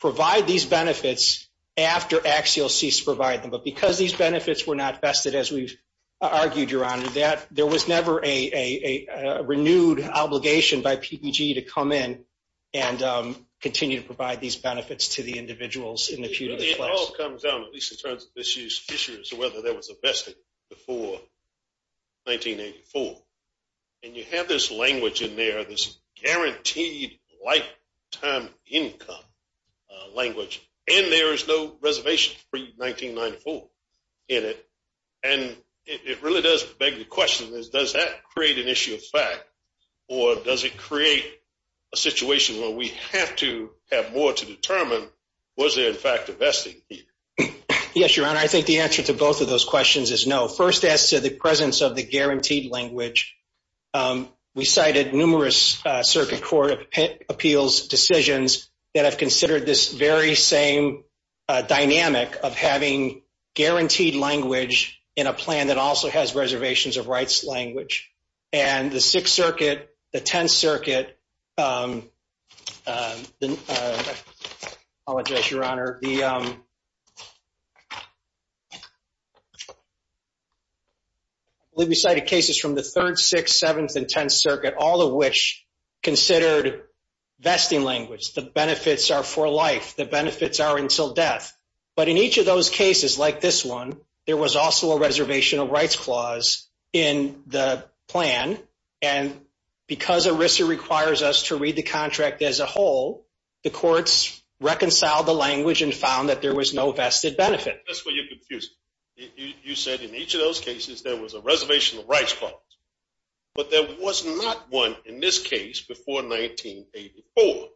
provide these benefits after AXIOS ceased to provide them. But because these benefits were not vested, as we've argued, Your Honor, that there was never a renewed obligation by PPG to come in and continue to provide these benefits to the individuals in the pew. It all comes down, at least in terms of this year's issue, as to whether there was a vested before 1984. And you have this language in there, this guaranteed lifetime income language, and there is no reservation for 1994 in it. And it really does beg the question is, does that create an issue of fact, or does it create a situation where we have to have more to determine was there in fact a vesting? Yes, Your Honor, I think the answer to both of those questions is no. First, as to the presence of the guaranteed language, we cited numerous circuit court appeals decisions that have considered this very same dynamic of having guaranteed language in a plan that also has reservations of rights language. And the Sixth Circuit, the Tenth Circuit, I apologize, Your Honor, we cited cases from the Third, Sixth, Seventh, and Tenth Circuit, all of which considered vesting language, the benefits are for life, the benefits are until death. But in each of those cases, like this one, there was also a reservation of rights clause in the plan. And because ERISA requires us to read the contract as a whole, the courts reconciled the language and found that there was no vested benefit. That's where you're confused. You said in each of those cases, there was a reservation of rights clause, but there was not one in this case before 1984.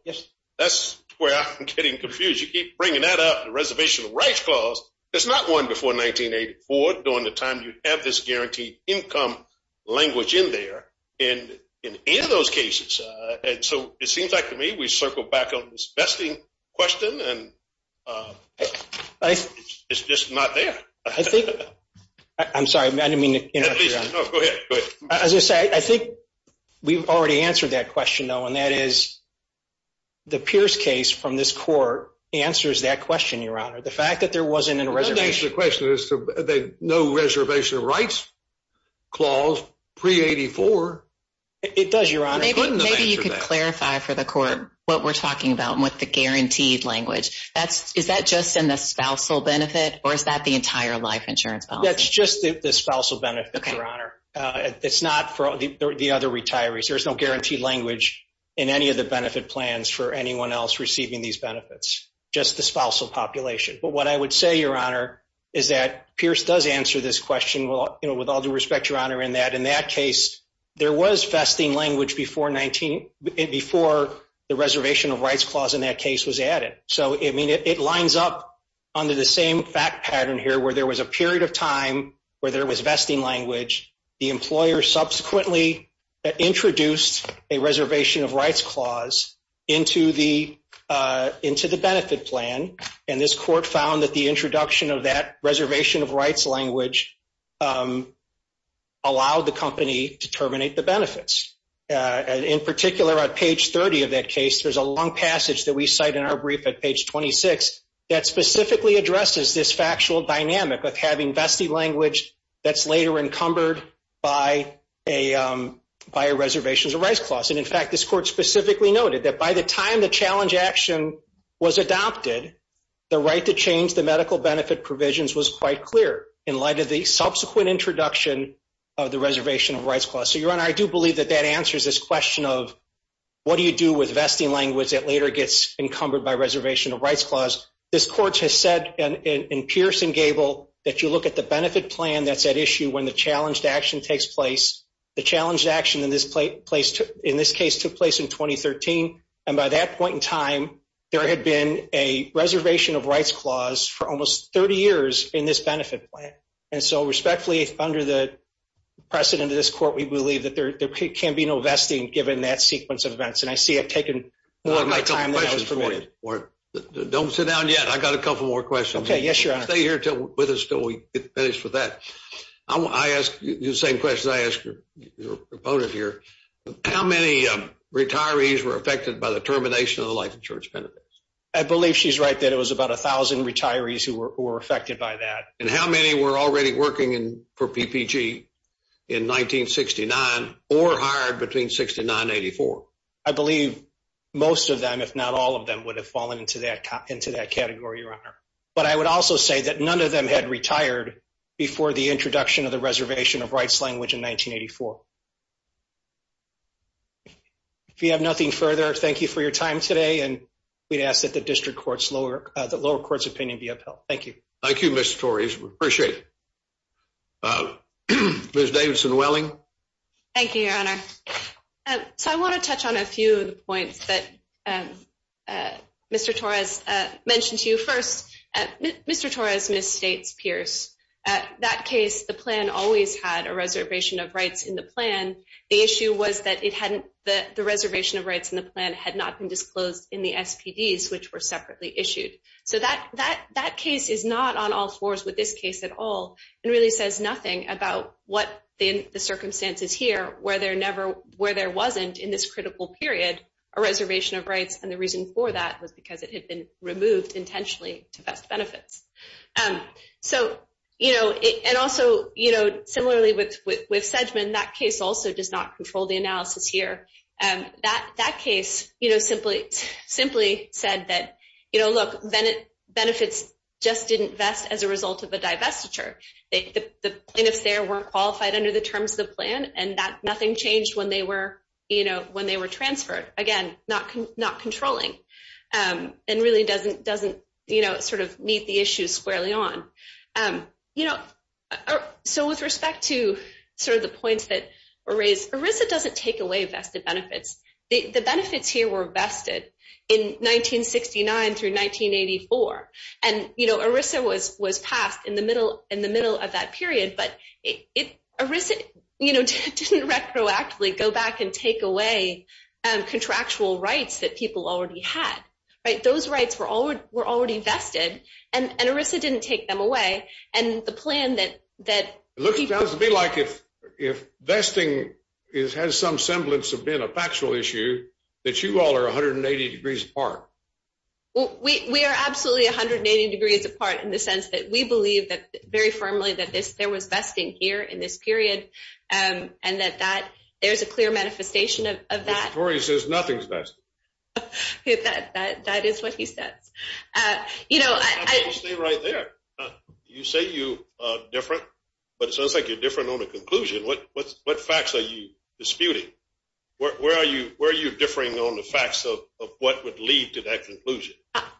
That's where I'm getting confused. You keep bringing that up, the reservation of rights clause, there's not one before 1984 during the time you have this guaranteed income language in there in any of those cases. And so it seems like to me, we circle back on this vesting question and it's just not there. I think, I'm sorry, I didn't mean to interrupt you, Your Honor. No, go ahead, go ahead. As I say, I think we've already answered that question though, and that is, the Pierce case from this court answers that question, Your Honor. The fact that there wasn't a reservation of rights clause pre-84. It does, Your Honor. Maybe you could clarify for the court what we're talking about with the guaranteed language. Is that just in the spousal benefit or is that the entire life insurance policy? That's just the spousal benefit, Your Honor. It's not for the other retirees. There's no guaranteed language in any of the benefit plans for anyone else receiving these benefits, just the spousal population. But what I would say, Your Honor, is that Pierce does answer this question. Well, with all due respect, Your Honor, in that case, there was vesting language before the reservation of rights clause in that case was added. So, I mean, it lines up under the same fact pattern here where there was a period of time where there was vesting language. The employer subsequently introduced a reservation of rights clause into the benefit plan. And this court found that the introduction of that reservation of rights language allowed the company to terminate the benefits. In particular, on page 30 of that case, there's a long passage that we cite in our brief at page 26 that specifically addresses this factual dynamic of having vesting language that's later encumbered by a reservations of rights clause. And in fact, this court specifically noted that by the time the challenge action was adopted, the right to change the medical benefit provisions was quite clear in light of the subsequent introduction of the reservation of rights clause. So, Your Honor, I do believe that that answers this question of what do you do with vesting language that later gets encumbered by reservation of rights clause? This court has said in Pierce and Gable that you look at the benefit plan that's at issue when the challenged action takes place. The challenged action in this case took place in 2013. And by that point in time, there had been a reservation of rights clause for almost 30 years in this benefit plan. And so respectfully, under the precedent of this court, we believe that there can be no vesting given that sequence of events. And I see it taken a long time. Don't sit down yet. I got a couple more questions. Okay. Yes, Your Honor. Stay here with us till we finish with that. I ask you the same question I ask your opponent here. How many retirees were affected by the termination of the life insurance benefits? I believe she's right that it was about a thousand retirees who were affected by that. And how many were already working for PPG in 1969 or hired between 69 and 84? I believe most of them, if not all of them, would have fallen into that into that category, Your Honor. But I would also say that none of them had retired before the introduction of the reservation of rights language in 1984. If you have nothing further, thank you for your time today. And we'd ask that the district courts lower the lower courts opinion be upheld. Thank you. Thank you, Mr. Torres. We appreciate it. Ms. Davidson-Welling. Thank you, Your Honor. So I want to touch on a few of the points that Mr. Torres mentioned to you. First, Mr. Torres misstates Pierce. At that case, the plan always had a reservation of rights in the plan. The issue was that it hadn't that the reservation of rights in the plan had not been disclosed in the SPDs, which were separately issued. So that that that case is not on all fours with this case at all. It really says nothing about what the circumstances here where they're never where there wasn't in this critical period, a reservation of rights. And the reason for that was because it had been removed intentionally to best benefits. So, you know, and also, you know, similarly with Sedgeman, that case also does not control the analysis here. That that case, you know, simply simply said that, you know, look, benefits just didn't vest as a result of a divestiture. The plaintiffs there weren't qualified under the terms of the plan. And that nothing changed when they were, you know, when they were transferred. Again, not not controlling and really doesn't doesn't, you know, sort of meet the issues squarely on, you know. So with respect to sort of the points that are raised, Arisa doesn't take away vested benefits. The benefits here were vested in 1969 through 1984. And, you know, Arisa was was passed in the middle in the middle of that period. But it Arisa, you know, didn't retroactively go back and take away contractual rights that people already had. Right. Those rights were all were already vested. And Arisa didn't take them away. And the plan that that looks to be like if if vesting is has some semblance of being a factual issue, that you all are 180 degrees apart. Well, we are absolutely 180 degrees apart in the sense that we believe that very firmly that this there was vesting here in this period and that that there's a clear manifestation of that. He says nothing's best. That is what he says. You know, I stay right there. You say you are different, but it sounds like you're different on the conclusion. What what what facts are you disputing? Where are you? Where are you differing on the facts of what would lead to that conclusion?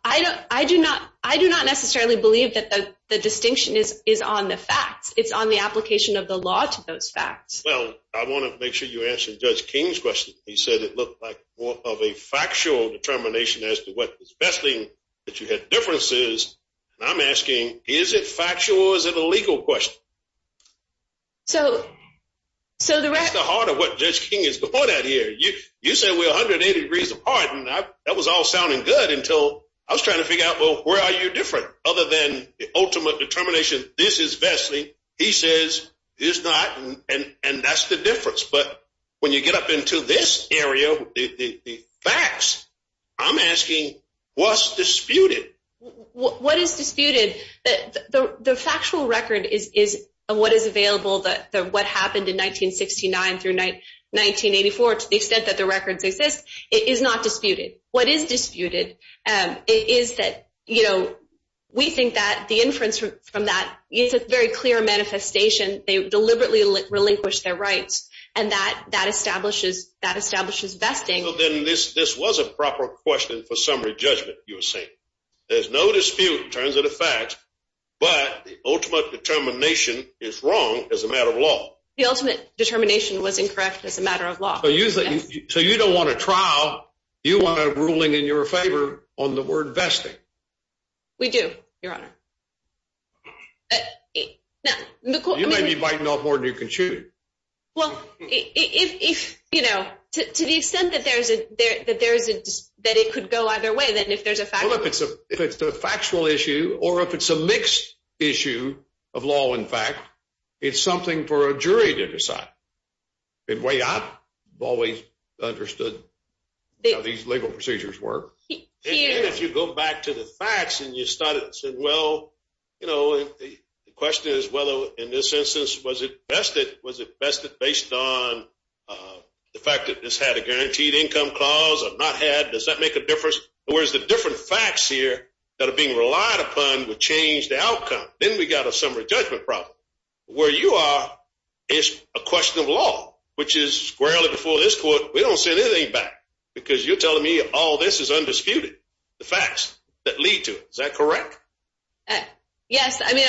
I don't I do not. I do not necessarily believe that the distinction is is on the facts. It's on the application of the law to those facts. Well, I want to make sure you answer Judge King's question. He said it looked like more of a factual determination as to what is besting that you had differences. And I'm asking, is it factual? Is it a legal question? So so the rest of the heart of what Judge King is going at here, you you said we're 180 degrees apart, and that was all sounding good until I was trying to figure out, well, where are you different? Other than the ultimate determination, this is vastly, he says is not. And and that's the difference. But when you get up into this area, the facts, I'm asking what's disputed? What is disputed? That the factual record is is what is available, that what happened in 1969 through 1984, to the extent that the records exist, it is not disputed. What is disputed is that, you know, we think that the inference from that is a very clear manifestation. They deliberately relinquish their rights and that that establishes that establishes vesting. Then this this was a proper question for summary judgment. You were saying there's no dispute in terms of the facts, but the ultimate determination is wrong as a matter of law. The ultimate determination was incorrect as a matter of law. So usually so you don't want a trial. You want a ruling in your favor on the word vesting. We do, Your Honor. You might be biting off more than you can chew. Well, if you know to the extent that there's a there that there is a that it could go either way, then if there's a fact, if it's a factual issue or if it's a mixed issue of law, in fact, it's something for a jury to decide. It way I've always understood these legal procedures work. If you go back to the facts and you started said, well, you know, the question is, whether in this instance was it vested? Was it vested based on the fact that this had a guaranteed income clause? I've not had. Does that make a difference? Whereas the different facts here that are being relied upon would change the outcome. Then we got a summary judgment problem where you are. It's a question of law, which is squarely before this court. We don't say anything back because you're telling me all this is undisputed. The facts that lead to it. Is that correct? Yes, I mean,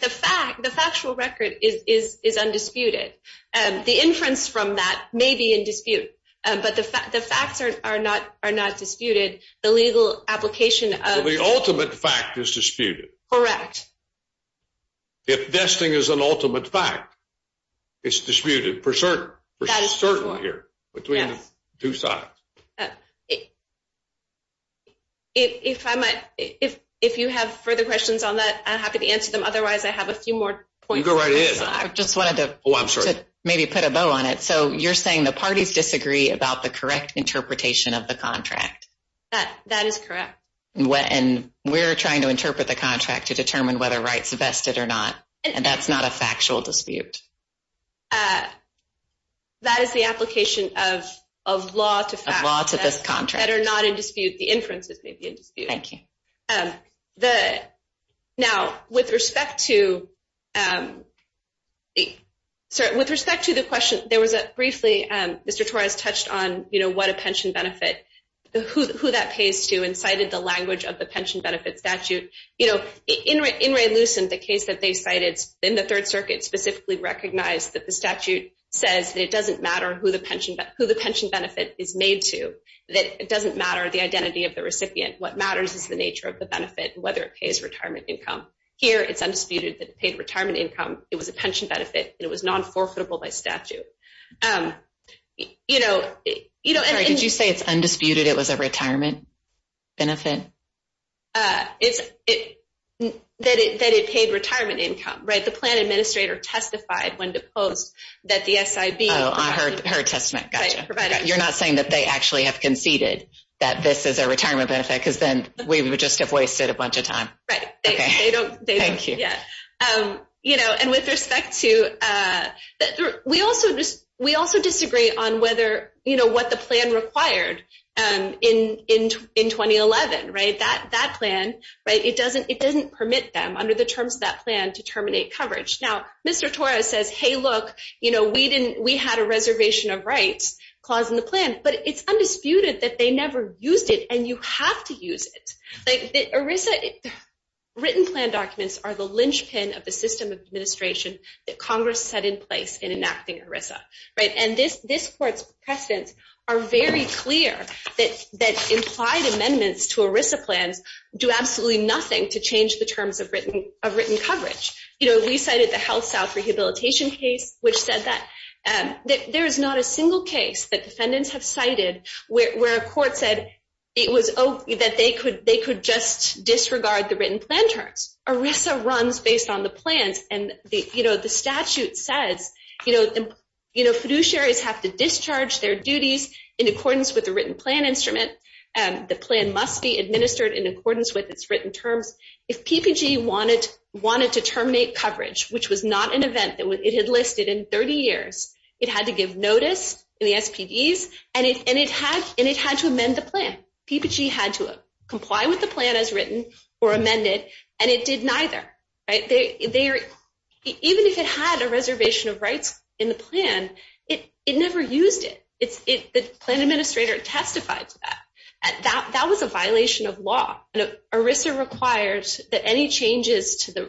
the fact the factual record is undisputed. The inference from that may be in dispute, but the facts are not are not disputed. The legal application of the ultimate fact is disputed. Correct. If this thing is an ultimate fact. It's disputed for certain, for certain here between the two sides. If I might, if you have further questions on that, I'm happy to answer them. Otherwise, I have a few more points. I just wanted to maybe put a bow on it. So you're saying the parties disagree about the correct interpretation of the contract. That is correct. And we're trying to interpret the contract to determine whether rights vested or not. And that's not a factual dispute. That is the application of of law to facts of this contract that are not in dispute. The inferences may be in dispute. Thank you. Now, with respect to the with respect to the question, there was a briefly, Mr. Torres touched on, you know, what a pension benefit, who that pays to and cited the language of the pension benefit statute. You know, in Ray Lucent, the case that they cited in the Third Circuit specifically recognized that the statute says that it doesn't matter who the pension benefit is made to, that it doesn't matter the identity of the recipient. What matters is the nature of the benefit, whether it pays retirement income. Here, it's undisputed that paid retirement income it was a pension benefit and it was non-forfeitable by statute. You know, you know, did you say it's undisputed? It was a retirement benefit. It's it that it paid retirement income, right? The plan administrator testified when deposed that the S.I.B. Oh, I heard her testament. You're not saying that they actually have conceded that this is a retirement benefit because then we would just have wasted a bunch of time. Right. Yeah. You know, and with respect to we also just we also disagree on whether you know what the plan required in in in 2011, right? That that plan, right? It doesn't it doesn't permit them under the terms of that plan to terminate coverage. Now, Mr. Torres says, hey, look, you know, we didn't we had a reservation of rights clause in the plan, but it's undisputed that they never used it. And you have to use it. Like Arisa, written plan documents are the linchpin of the system of administration that Congress set in place in enacting Arisa, right? And this this court's precedents are very clear that that implied amendments to Arisa plans do absolutely nothing to change the terms of written of written coverage. You know, we cited the Health South Rehabilitation case, which said that there is not a single case that defendants have cited where a court said it was that they could they could just disregard the written plan terms. Arisa runs based on the plans. And, you know, the statute says, you know, you know, fiduciaries have to discharge their duties in accordance with the written plan instrument. And the plan must be administered in accordance with its written terms. If PPG wanted wanted to terminate coverage, which was not an event that it had listed in 30 years, it had to give notice in the SPDs and it and it had and it had to amend the plan. PPG had to comply with the plan as written or amended. And it did neither. Right there. Even if it had a reservation of rights in the plan, it it never used it. It's it. The plan administrator testified to that that that was a violation of law. And Arisa requires that any changes to the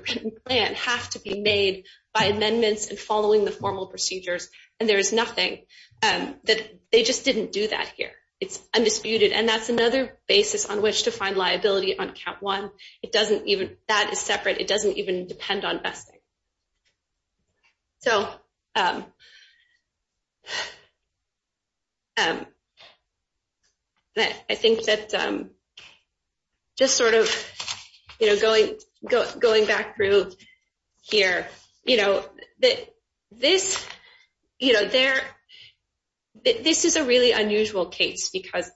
plan have to be made by amendments and following the formal procedures. And there is nothing that they just didn't do that here. It's undisputed. And that's another basis on which to find liability on count one. It doesn't even that is separate. It doesn't even depend on vesting. So. I think that. Just sort of, you know, going going back through here, you know that this, you know, there. because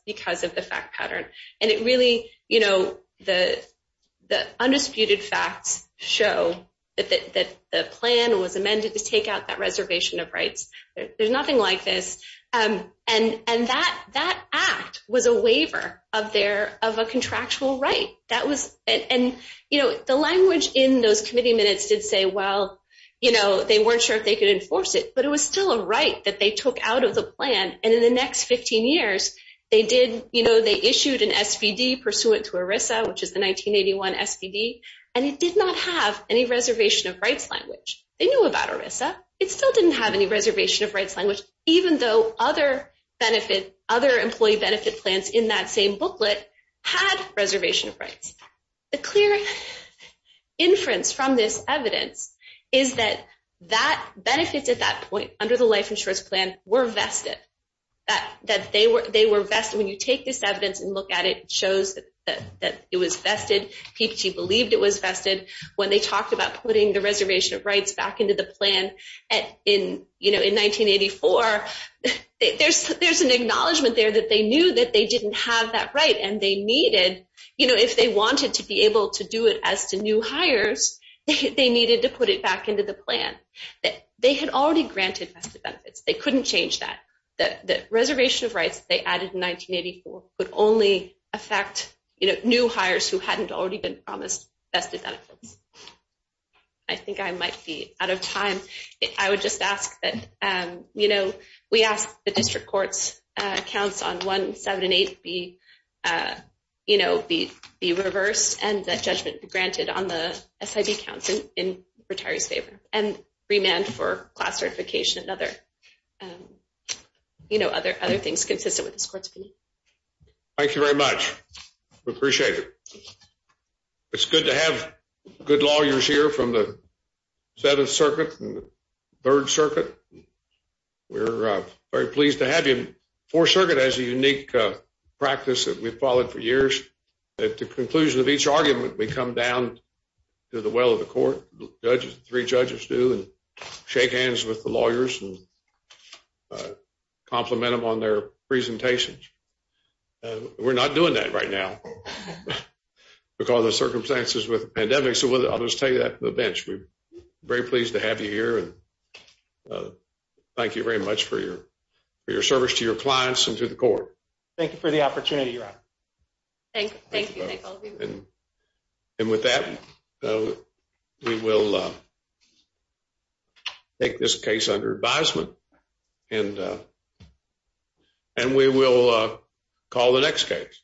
because of the fact pattern. And it really, you know, the the undisputed facts show that that the plan was amended to take out that reservation of rights. There's nothing like this. And and that that act was a waiver of their of a contractual right. That was it. And, you know, the language in those committee minutes did say, well, you know, they weren't sure if they could enforce it, but it was still a right that they took out of the plan. And in the next 15 years, they did. You know, they issued an SVD pursuant to ERISA, which is the 1981 SVD, and it did not have any reservation of rights language. They knew about ERISA. It still didn't have any reservation of rights language, even though other benefit, other employee benefit plans in that same booklet had reservation of rights. The clear inference from this evidence is that that benefits at that point under the life insurance plan were vested that that they were they were vested. When you take this evidence and look at it, it shows that it was vested. PPT believed it was vested when they talked about putting the reservation of rights back into the plan. And in, you know, in 1984, there's there's an acknowledgement there that they knew that they didn't have that right and they needed, you know, if they wanted to be able to do it as to new hires, they needed to put it back into the plan that they had already granted vested benefits. They couldn't change that, that the reservation of rights they added in 1984 would only affect, you know, new hires who hadn't already been promised vested benefits. I think I might be out of time. I would just ask that, you know, we ask the district courts counts on 178 be, you know, be be reversed and that judgment be granted on the SID counts in retirees favor and remand for class certification and other, you know, other other things consistent with this court's opinion. Thank you very much. We appreciate it. It's good to have good lawyers here from the 7th Circuit and the 3rd Circuit. We're very pleased to have you. 4th Circuit has a unique practice that we've followed for years. At the conclusion of each argument, we come down to the well of the court. Judges, three judges do and shake hands with the lawyers and compliment them on their presentations. We're not doing that right now because of circumstances with the pandemic. So I'll just take that to the bench. We're very pleased to have you here. And thank you very much for your for your service to your clients and to the court. Thank you for the opportunity, Your Honor. Thank you. And with that, we will take this case under advisement and and we will call the next case.